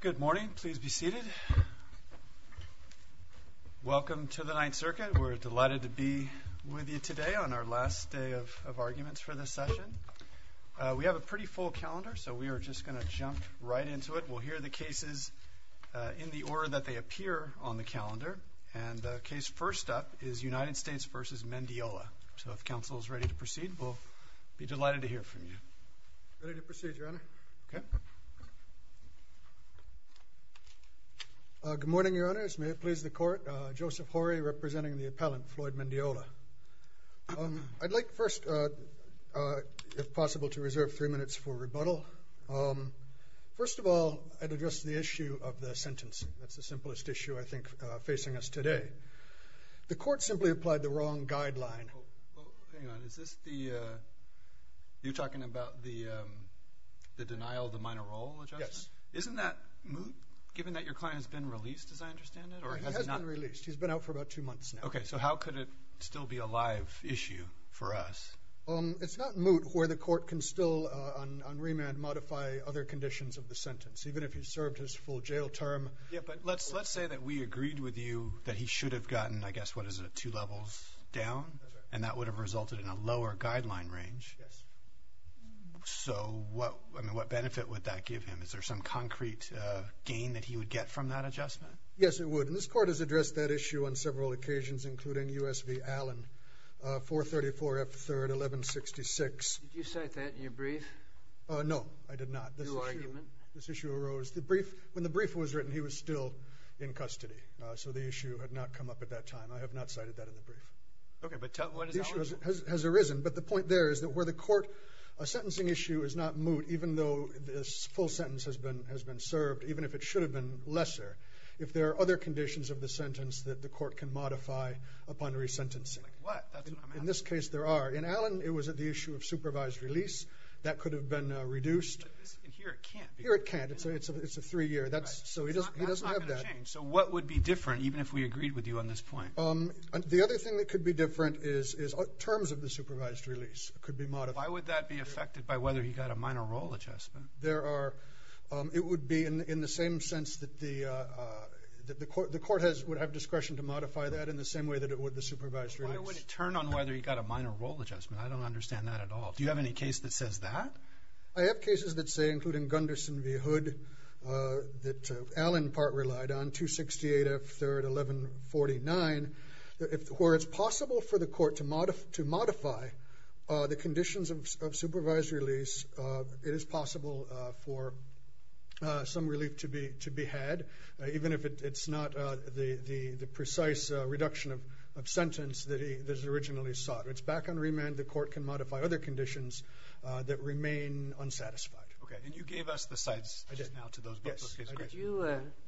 Good morning. Please be seated. Welcome to the Ninth Circuit. We're delighted to be with you today on our last day of arguments for this session. We have a pretty full calendar, so we are just going to jump right into it. We'll hear the cases in the order that they appear on the calendar. And the case first up is United States v. Mendiola. So if counsel is ready to proceed, we'll be delighted to hear from you. Ready to proceed, Your Honor. Good morning, Your Honors. May it please the Court. Joseph Horry representing the appellant, Floyd Mendiola. I'd like first, if possible, to reserve three minutes for rebuttal. First of all, I'd address the issue of the sentence. That's the simplest issue I think facing us today. The Court simply applied the wrong guideline. Well, hang on. Is this the, you're talking about the denial of the minor role adjustment? Yes. Isn't that moot, given that your client has been released, as I understand it? He has been released. He's been out for about two months now. Okay. So how could it still be a live issue for us? It's not moot where the Court can still, on remand, modify other conditions of the sentence, even if he served his full jail term. Yeah, but let's say that we agreed with you that he should have gotten, I guess, what And that would have resulted in a lower guideline range. Yes. So what, I mean, what benefit would that give him? Is there some concrete gain that he would get from that adjustment? Yes, it would. And this Court has addressed that issue on several occasions, including U.S. v. Allen, 434 F. 3rd, 1166. Did you cite that in your brief? No, I did not. New argument. This issue arose, the brief, when the brief was written, he was still in custody. So the issue had not come up at that time. I have not cited that in the brief. Okay, but tell me, what is that? The issue has arisen, but the point there is that where the Court, a sentencing issue is not moot, even though this full sentence has been served, even if it should have been lesser, if there are other conditions of the sentence that the Court can modify upon resentencing. Like what? That's what I'm asking. In this case, there are. In Allen, it was at the issue of supervised release. That could have been reduced. But here it can't be. Here it can't. It's a three-year. That's, so he doesn't have that. That's not going to change. So what would be different, even if we agreed with you on this point? The other thing that could be different is terms of the supervised release could be modified. Why would that be affected by whether he got a minor role adjustment? There are, it would be in the same sense that the Court has, would have discretion to modify that in the same way that it would the supervised release. Why would it turn on whether he got a minor role adjustment? I don't understand that at all. Do you have any case that says that? I have cases that say, including Gunderson v. Hood, that Allen part relied on, 268 F 1149, where it's possible for the Court to modify the conditions of supervised release, it is possible for some relief to be had, even if it's not the precise reduction of sentence that he originally sought. It's back on remand. The Court can modify other conditions that remain unsatisfied. Okay. And you gave us the sites just now to those bookcase cases.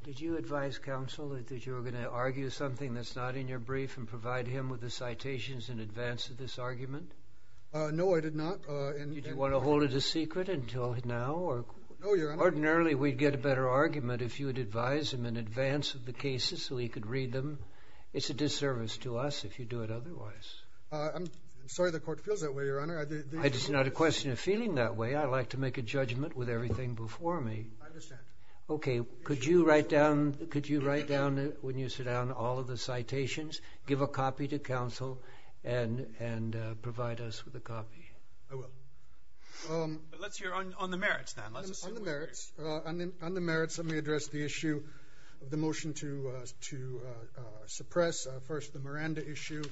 Did you advise counsel that you were going to argue something that's not in your brief and provide him with the citations in advance of this argument? No, I did not. Did you want to hold it a secret until now? Ordinarily, we'd get a better argument if you would advise him in advance of the cases so he could read them. It's a disservice to us if you do it otherwise. I'm sorry the Court feels that way, Your Honor. It's not a question of feeling that way. I like to make a judgment with everything before me. I understand. Okay. Could you write down, when you sit down, all of the citations, give a copy to counsel, and provide us with a copy? I will. Let's hear on the merits, then. On the merits, let me address the issue of the motion to suppress. First, the Miranda issue.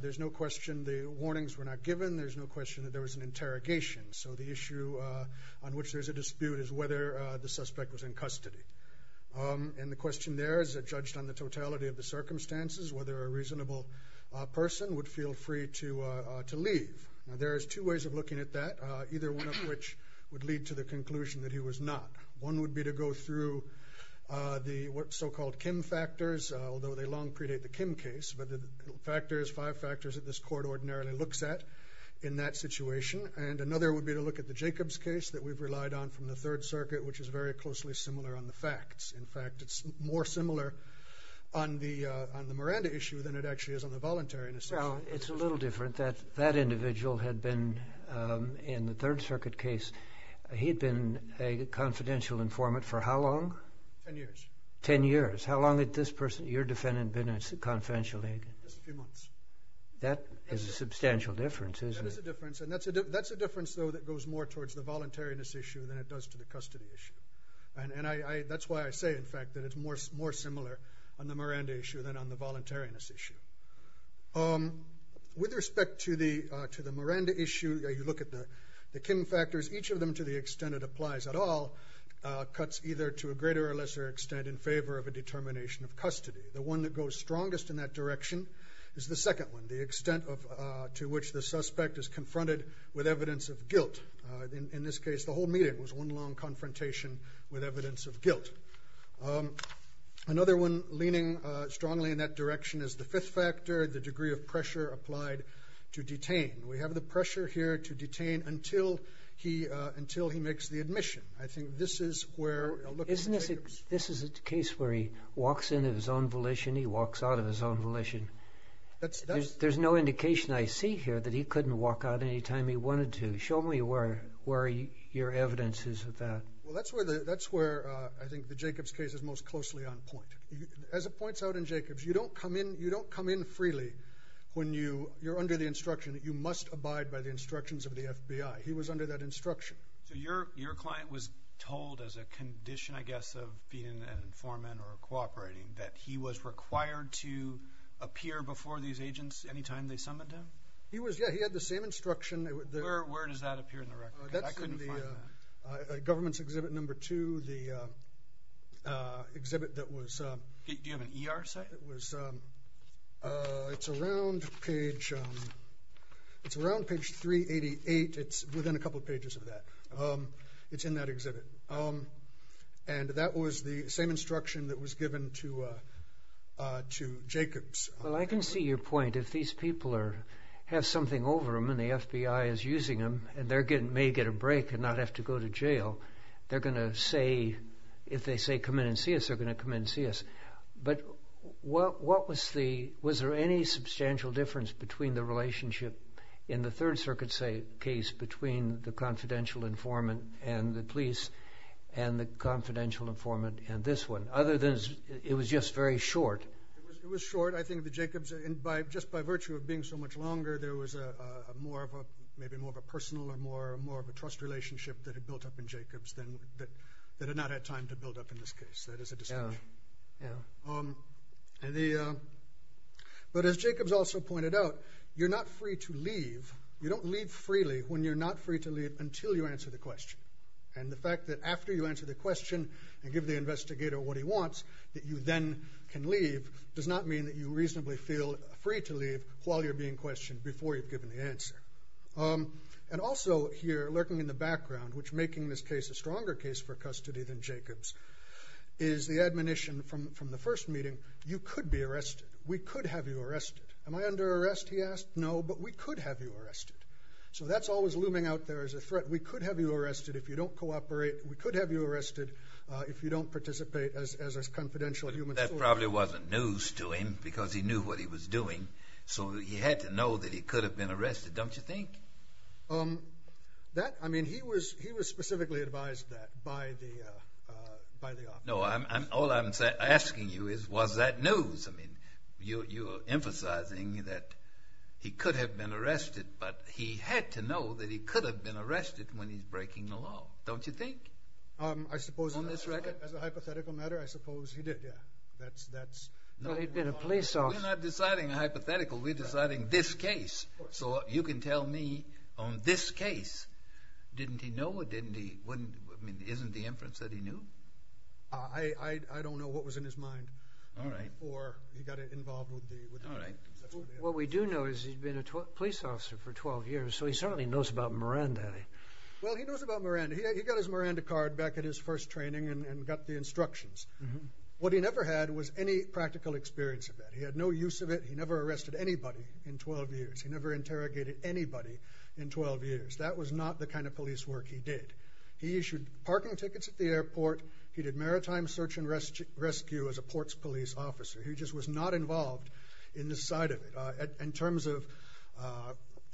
There's no question the warnings were not given. There's no question that there was an interrogation. So the issue on which there's a dispute is whether the suspect was in custody. And the question there is that, judged on the totality of the circumstances, whether a reasonable person would feel free to leave. Now, there's two ways of looking at that, either one of which would lead to the conclusion that he was not. One would be to go through the so-called Kim factors, although they long predate the Kim case. But the factors, five factors, that this Court ordinarily looks at in that situation. And another would be to look at the Jacobs case that we've relied on from the Third Circuit, which is very closely similar on the facts. In fact, it's more similar on the Miranda issue than it actually is on the voluntariness issue. Well, it's a little different. That individual had been, in the Third Circuit case, he'd been a confidential informant for how long? Ten years. Ten years. How long had this person, your defendant, been a confidential agent? Just a few months. That is a substantial difference, isn't it? That is a difference. And that's a difference, though, that goes more towards the voluntariness issue than it does to the custody issue. And that's why I say, in fact, that it's more similar on the Miranda issue than on the voluntariness issue. With respect to the Miranda issue, you look at the Kim factors. Each of them, to the extent it applies at all, cuts either to a greater or lesser extent in favor of a determination of custody. The one that goes strongest in that direction is the second one, the extent to which the suspect is confronted with evidence of guilt. In this case, the whole meeting was one long confrontation with evidence of guilt. Another one leaning strongly in that direction is the fifth factor, the degree of pressure applied to detain. We have the pressure here to detain until he makes the admission. I think this is where... This is a case where he walks in of his own volition, he walks out of his own volition. That's... There's no indication I see here that he couldn't walk out any time he wanted to. Show me where your evidence is of that. Well, that's where I think the Jacobs case is most closely on point. As it points out in Jacobs, you don't come in freely when you're under the instruction that you must abide by the instructions of the FBI. He was under that instruction. So your client was told, as a condition, I guess, of being an informant or cooperating, that he was required to appear before these agents any time they summoned him? He was, yeah. He had the same instruction. Where does that appear in the record? I couldn't find that. Government's exhibit number two, the exhibit that was... Do you have an ER site? It was... It's around page... It's around page 388. It's within a couple of pages of that. It's in that exhibit. And that was the same instruction that was given to Jacobs. Well, I can see your point. If these people have something over them and the FBI is using them, and they may get a break and not have to go to jail, they're going to say... If they say, come in and see us, they're going to come in and see us. But what was the... Was there any substantial difference between the relationship in the Third Circuit case between the confidential informant and the police and the confidential informant in this one, other than it was just very short? It was short. I think the Jacobs... And just by virtue of being so much longer, there was more of a... Maybe more of a personal or more of a trust relationship that had built up in Jacobs than... That had not had time to build up in this case. That is a distinction. Yeah. But as Jacobs also pointed out, you're not free to leave. You don't leave freely when you're not free to leave until you answer the question. And the fact that after you answer the question and give the investigator what he wants, that you then can leave, does not mean that you reasonably feel free to leave while you're being questioned before you've given the answer. And also here, lurking in the background, which making this case a stronger case for custody than from the first meeting, you could be arrested. We could have you arrested. Am I under arrest, he asked? No, but we could have you arrested. So that's always looming out there as a threat. We could have you arrested if you don't cooperate. We could have you arrested if you don't participate as a confidential human... That probably wasn't news to him because he knew what he was doing, so he had to know that he could have been arrested, don't you think? That... I mean, he was specifically advised that by the officer. All I'm asking you is, was that news? I mean, you're emphasizing that he could have been arrested, but he had to know that he could have been arrested when he's breaking the law, don't you think? I suppose... On this record? As a hypothetical matter, I suppose he did, yeah. He'd been a police officer. We're not deciding hypothetical, we're deciding this case. So you can tell me on this case, didn't he know or didn't he... I mean, isn't the inference that he knew? I don't know what was in his mind before he got involved with the... All right. What we do know is he'd been a police officer for 12 years, so he certainly knows about Miranda. Well, he knows about Miranda. He got his Miranda card back at his first training and got the instructions. What he never had was any practical experience of that. He had no use of it. He never arrested anybody in 12 years. He never interrogated anybody in 12 years. That was not the kind of search and rescue as a ports police officer. He just was not involved in the side of it. In terms of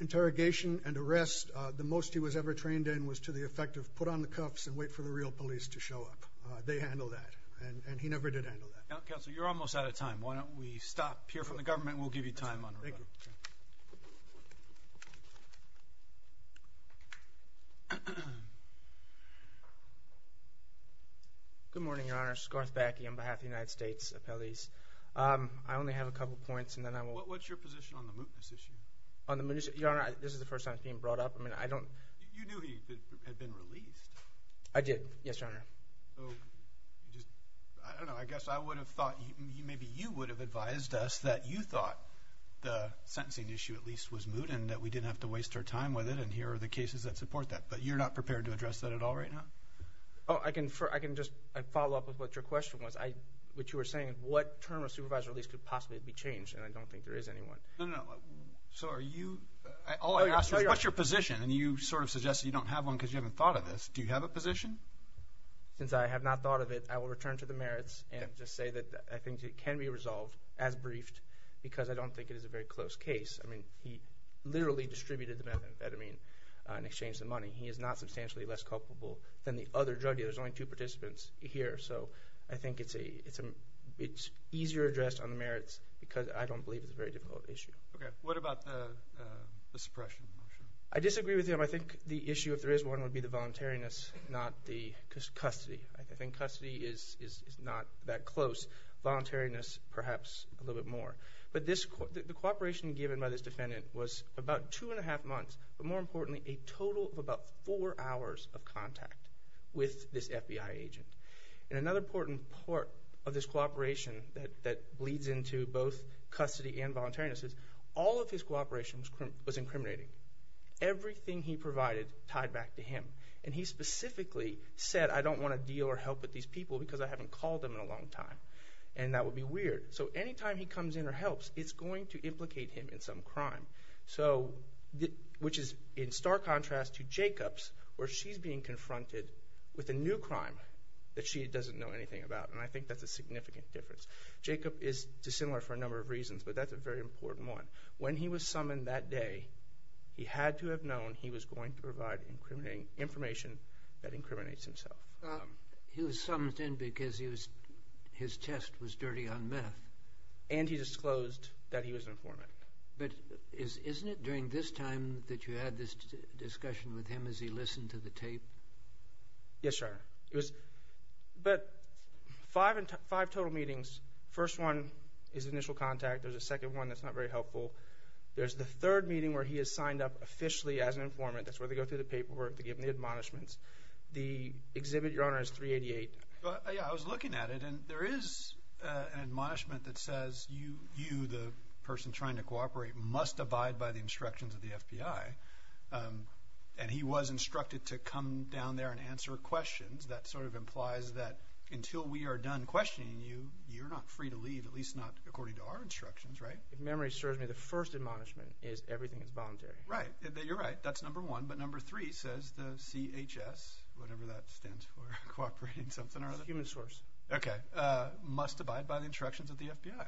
interrogation and arrest, the most he was ever trained in was to the effect of put on the cuffs and wait for the real police to show up. They handled that and he never did handle that. Counselor, you're almost out of time. Why don't we stop, hear from the government, and we'll give you time on... Thank you. Good morning, Your Honor. Scarth Backey on behalf of the United States Appellees. I only have a couple of points and then I will... What's your position on the mootness issue? On the mootness... Your Honor, this is the first time it's being brought up. I mean, I don't... You knew he had been released. I did. Yes, Your Honor. Oh, you just... I don't know. I guess I would have thought... Maybe you would have advised us that sentencing issue, at least, was moot and that we didn't have to waste our time with it and here are the cases that support that. But you're not prepared to address that at all right now? Oh, I can just follow up with what your question was. What you were saying, what term of supervised release could possibly be changed? And I don't think there is any one. No, no, no. So are you... All I ask is what's your position? And you sort of suggest you don't have one because you haven't thought of this. Do you have a position? Since I have not thought of it, I will return to the merits and just say that I think it can be resolved as briefed because I don't think it is a very close case. I mean, he literally distributed the methamphetamine in exchange for money. He is not substantially less culpable than the other drug dealers. There's only two participants here. So I think it's easier addressed on the merits because I don't believe it's a very difficult issue. Okay. What about the suppression motion? I disagree with him. I think the issue, if there is one, would be the voluntariness, not the custody. I think custody is not that close. Voluntariness, perhaps a little bit more. But the cooperation given by this defendant was about two and a half months, but more importantly, a total of about four hours of contact with this FBI agent. And another important part of this cooperation that leads into both custody and voluntariness is all of his cooperation was incriminating. Everything he provided tied back to him. And he specifically said, I don't want to deal or help with these people because I haven't called them in a long time. And that would be weird. So anytime he comes in or helps, it's going to implicate him in some crime. So, which is in stark contrast to Jacob's, where she's being confronted with a new crime that she doesn't know anything about. And I think that's a significant difference. Jacob is dissimilar for a number of reasons, but that's a very important one. When he was summoned that day, he had to have known he was going to provide information that incriminates himself. He was summoned in because his test was dirty on meth. And he disclosed that he was an informant. But isn't it during this time that you had this discussion with him as he listened to the tape? Yes, sir. But five total meetings, first one is initial contact. There's a second one that's not very helpful. There's the third meeting where he is signed up officially as an informant. That's where they go through the paperwork. They give him the admonishments. The exhibit, Your Honor, is 388. Yeah, I was looking at it. And there is an admonishment that says you, the person trying to cooperate, must abide by the instructions of the FBI. And he was instructed to come down there and answer questions. That sort of implies that until we are done questioning you, you're not free to leave, at least not according to our instructions, right? If memory serves me, the first admonishment is everything is voluntary. Right. You're right. That's number one. But number three says the CHS, whatever that stands for, cooperating something or other. The human source. Okay. Must abide by the instructions of the FBI.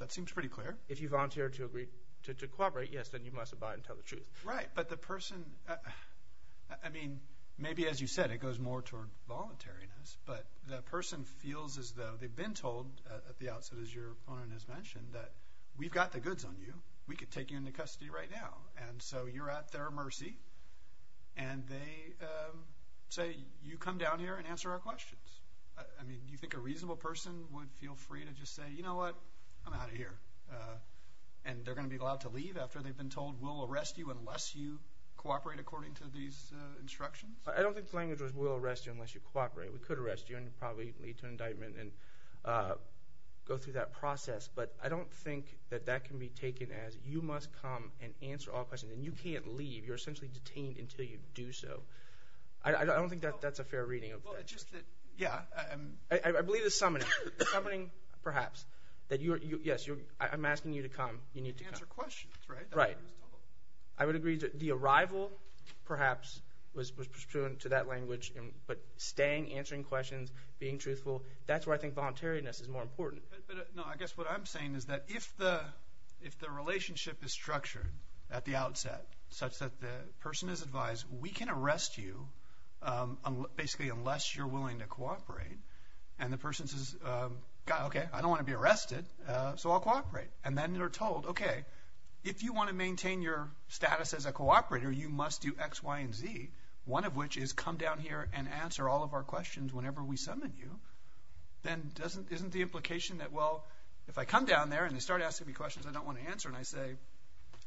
That seems pretty clear. If you volunteer to agree to cooperate, yes, then you must abide and tell the truth. Right. But the person, I mean, maybe as you said, it goes more toward voluntariness. But the person feels as though they've been told at the outset, as your opponent has mentioned, that we've got the goods on you. We could take you into custody right now. And so you're at their mercy. And they say, you come down here and answer our questions. I mean, do you think a reasonable person would feel free to just say, you know what? I'm out of here. And they're going to be allowed to leave after they've been told we'll arrest you unless you cooperate according to these instructions? I don't think the language was we'll arrest you unless you cooperate. We could arrest you and probably lead to an indictment and go through that process. But I don't think that that can be taken as you must come and answer all questions. And you can't leave. You're essentially detained until you do so. I don't think that that's a fair reading of that. Just that, yeah. I believe it's summoning. Summoning, perhaps, that yes, I'm asking you to come. You need to come. Answer questions, right? Right. I would agree that the arrival, perhaps, was pursuant to that language. But staying, answering questions, being truthful, that's where I think voluntariness is more important. No, I guess what I'm saying is that if the relationship is structured at the outset such that the person is advised, we can arrest you basically unless you're willing to cooperate. And the person says, okay, I don't want to be arrested. So I'll cooperate. And then you're told, okay, if you want to maintain your status as a cooperator, you must do X, Y, and Z. One of which is come down here and answer all of our questions whenever we summon you. Then doesn't, isn't the implication that, well, if I come down there and they start asking me questions I don't want to answer and I say,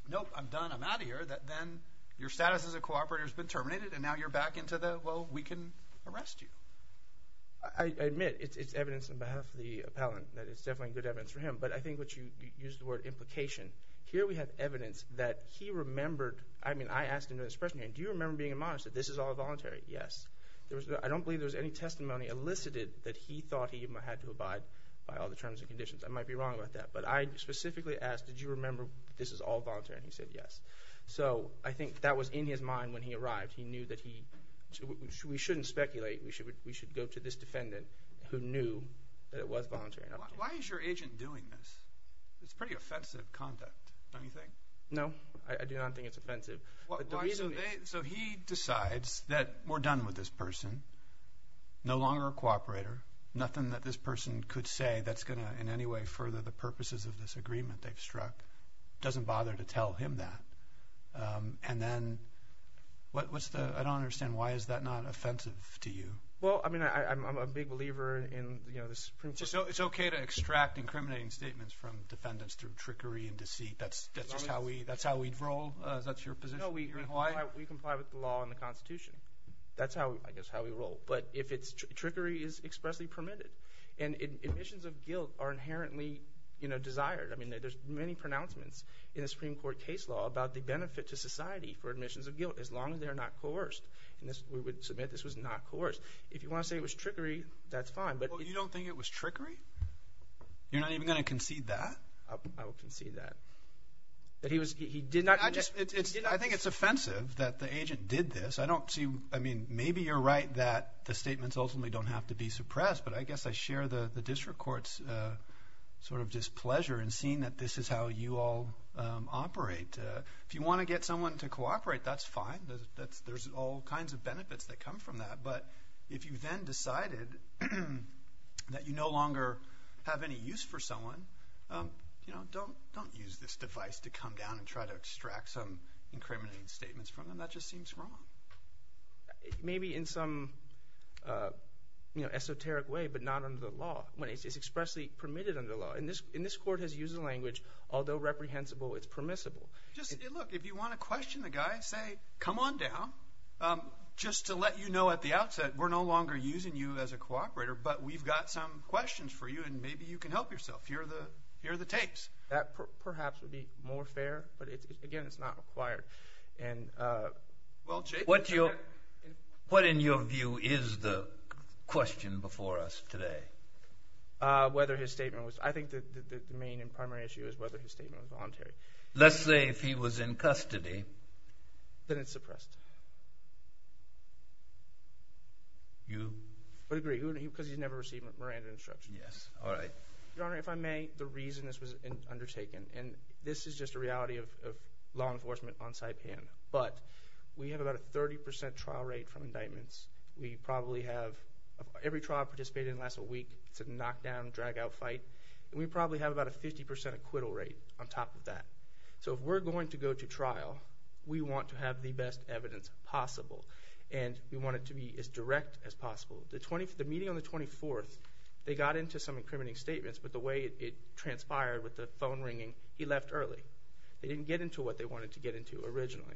nope, I'm done, I'm out of here, that then your status as a cooperator has been terminated and now you're back into the, well, we can arrest you. I admit it's evidence on behalf of the appellant that it's definitely good evidence for him. But I think what you use the word implication. Here we have evidence that he remembered, I mean, I asked him to express me, do you remember being admonished that this is all voluntary? Yes. I don't believe there was any testimony elicited that he thought he had to abide by all the terms and conditions. I might be wrong about that. But I specifically asked, did you remember this is all voluntary? And he said yes. So I think that was in his mind when he arrived. He knew that he, we shouldn't speculate, we should go to this defendant who knew that it was voluntary. Why is your agent doing this? It's pretty offensive conduct, don't you think? No, I do not think it's offensive. So he decides that we're done with this person, no longer a cooperator, nothing that this person could say that's gonna in any way further the purposes of this agreement they've struck. Doesn't bother to tell him that. And then, what's the, I don't understand, why is that not offensive to you? Well, I mean, I'm a big believer in, you know, the Supreme Court. It's okay to extract incriminating statements from defendants through trickery and deceit. That's just how we, that's how we roll? That's your position here in Hawaii? No, we comply with the law and the Constitution. That's how, I guess, how we roll. But if it's, trickery is expressly permitted. And admissions of guilt are inherently, you know, desired. I mean, there's many pronouncements in the Supreme Court case law about the benefit to society for admissions of guilt, as long as they're not coerced. And this, we would submit this was not coerced. If you want to say it was trickery, that's fine. But you don't think it was trickery? You're not even going to concede that? I will concede that. That he was, he did not. I just, it's, I think it's offensive that the agent did this. I don't see, I mean, maybe you're right that the statements ultimately don't have to be suppressed. But I guess I share the District Court's sort of displeasure in seeing that this is how you all operate. If you want to get someone to cooperate, that's fine. There's all kinds of benefits that come from that. But if you then decided that you no longer have any use for someone, you know, don't use this device to come down and try to extract some incriminating statements from them. That just seems wrong. Maybe in some, you know, esoteric way, but not under the law, when it's expressly permitted under the law. And this Court has used the language, although reprehensible, it's permissible. Just, look, if you want to question the guy, say, come on down. Just to let you know at the outset, we're no longer using you as a cooperator, but we've got some questions for you, and maybe you can help yourself. Here are the tapes. That perhaps would be more fair, but again, it's not required. What in your view is the question before us today? Whether his statement was, I think the main and primary issue is whether his statement was voluntary. Let's say if he was in custody. Then it's suppressed. You? I would agree, because he's never received Miranda instruction. Yes, all right. Your Honor, if I may, the reason this was undertaken, and this is just a reality of law enforcement on Saipan, but we have about a 30% trial rate from indictments. We probably have, every trial participated in lasts a week. It's a knockdown, drag out fight, and we probably have about a 50% acquittal rate on top of that. So if we're going to go to trial, we want to have the best evidence possible, and we want it to be as direct as possible. The meeting on the 24th, they got into some incriminating statements, but the way it transpired with the phone ringing, he left early. They didn't get into what they wanted to get into originally,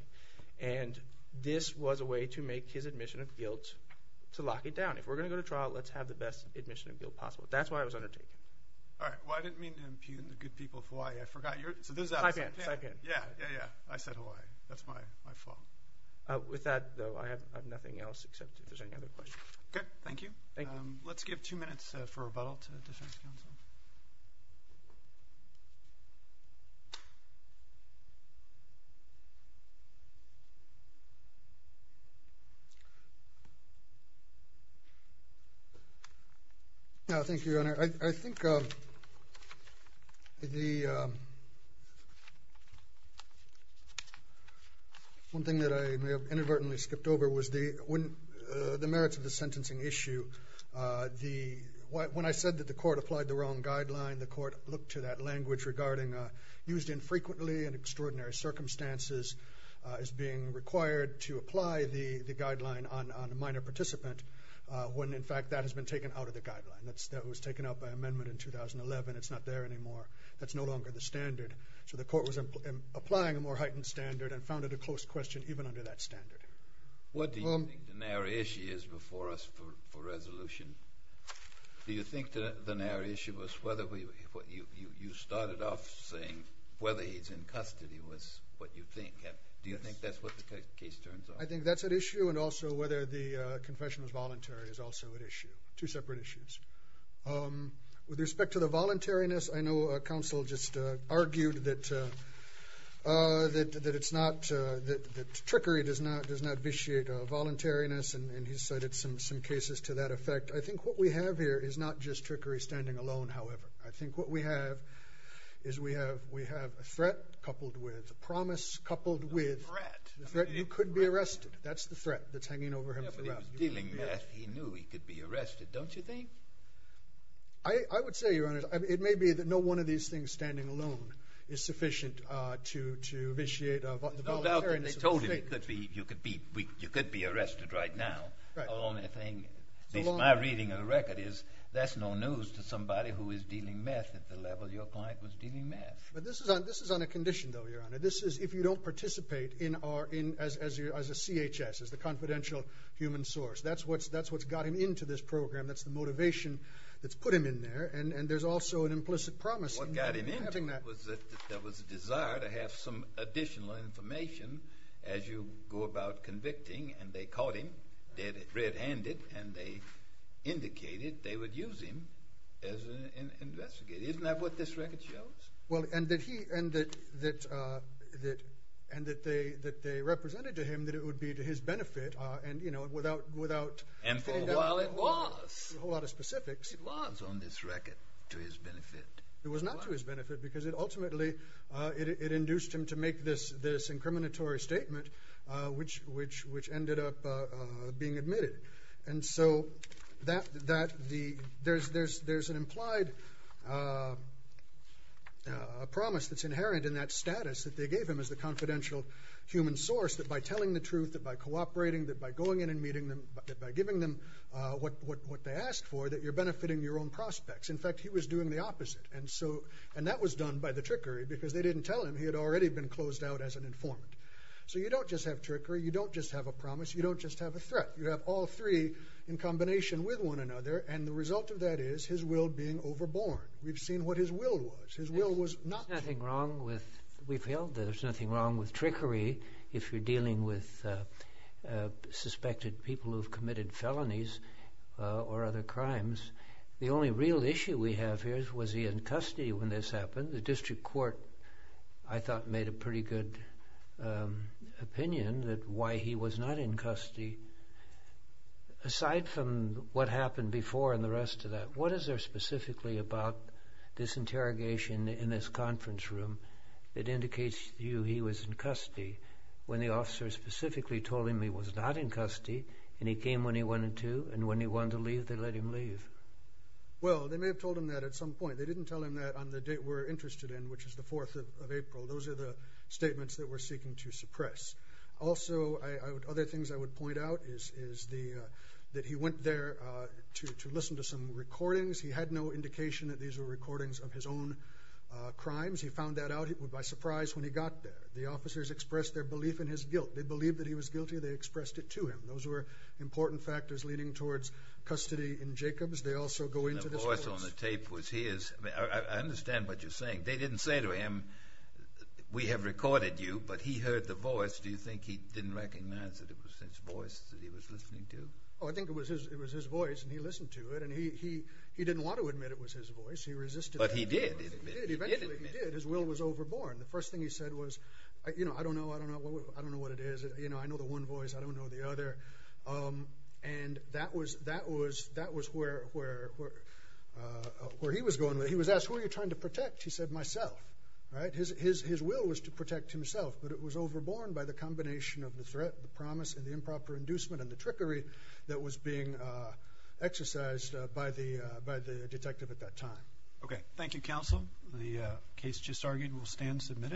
and this was a way to make his admission of guilt, to lock it down. If we're going to go to trial, let's have the best admission of guilt possible. That's why it was undertaken. All right. Well, I didn't mean to impugn the good people of Hawaii. I forgot. Saipan, Saipan. Yeah, yeah, yeah. I said Hawaii. That's my fault. With that, though, I have nothing else except if there's any other questions. Okay. Thank you. Thank you. Let's give two minutes for rebuttal to the defense counsel. No, thank you, Your Honor. I think the one thing that I may have inadvertently skipped over was the merits of the sentencing issue. When I said that the court applied the wrong guideline, the court looked to that language regarding used infrequently in extraordinary circumstances as being required to apply the guideline on a minor participant when, in fact, that has been taken out of the guideline. That was taken out by amendment in 2011. It's not there anymore. That's no longer the standard, so the court was applying a more heightened standard and a close question even under that standard. What do you think the narrow issue is before us for resolution? Do you think the narrow issue was whether you started off saying whether he's in custody was what you think? Do you think that's what the case turns out? I think that's at issue and also whether the confession was voluntary is also at issue. Two separate issues. With respect to the voluntariness, I know counsel just argued that trickery does not vitiate voluntariness, and he cited some cases to that effect. I think what we have here is not just trickery standing alone, however. I think what we have is we have a threat coupled with a promise coupled with the threat you could be arrested. That's the threat that's hanging over him throughout. But he was dealing meth. He knew he could be arrested, don't you think? I would say, Your Honor, it may be that no one of these things standing alone is sufficient to vitiate the voluntariness of the state. There's no doubt that you could be arrested right now. My reading of the record is that's no news to somebody who is dealing meth at the level your client was dealing meth. But this is on a condition, though, Your Honor. This is if you don't participate as a CHS, as the confidential human source. That's what's got him into this that's put him in there, and there's also an implicit promise. What got him in was that there was a desire to have some additional information as you go about convicting, and they caught him dead red-handed, and they indicated they would use him as an investigator. Isn't that what this record shows? Well, and that he, and that they represented to him that it would be to his benefit, and, you know, without... And for a while it was. ...a whole lot of specifics. It was on this record to his benefit. It was not to his benefit because it ultimately, it induced him to make this incriminatory statement which ended up being admitted. And so there's an implied promise that's inherent in that status that they gave him as the confidential human source, that by telling the truth, that by cooperating, that by going in and meeting them, by giving them what they asked for, that you're benefiting your own prospects. In fact, he was doing the opposite, and so, and that was done by the trickery, because they didn't tell him he had already been closed out as an informant. So you don't just have trickery, you don't just have a promise, you don't just have a threat. You have all three in combination with one another, and the result of that is his will being overborne. We've seen what his will was. His will was not... There's nothing wrong with, we've held that there's nothing wrong with trickery if you're dealing with suspected people who've committed felonies or other crimes. The only real issue we have here is, was he in custody when this happened? The district court, I thought, made a pretty good opinion that why he was not in custody, aside from what happened before and the rest of that, what is there specifically about this interrogation in this conference room that indicates to you he was in custody? When the officers specifically told him he was not in custody, and he came when he wanted to, and when he wanted to leave, they let him leave. Well, they may have told him that at some point. They didn't tell him that on the date we're interested in, which is the 4th of April. Those are the statements that we're seeking to suppress. Also, other things I would point out is that he went there to listen to some recordings. He had no indication that these were recordings of his own crimes. He found that out by surprise when he got there. The officers expressed their belief in his guilt. They believed that he was guilty. They expressed it to him. Those were important factors leading towards custody in Jacobs. They also go into this course. The voice on the tape was his. I understand what you're saying. They didn't say to him, we have recorded you, but he heard the voice. Do you think he didn't recognize that it was his voice that he was listening to? Oh, I think it was his voice, and he listened to it, and he didn't want to admit it was his voice. He resisted. But he did. Eventually, he did. His will was overborn. The first thing he said was, I don't know. I don't know what it is. I know the one voice. I don't know the other. And that was where he was going with it. He was asked, who are you trying to protect? He said, myself. His will was to protect himself, but it was overborn by the combination of the threat, the promise, and the improper inducement, and the trickery that was being exercised by the detective at that time. Okay. Thank you, counsel. The case just argued. We'll stand and submit it.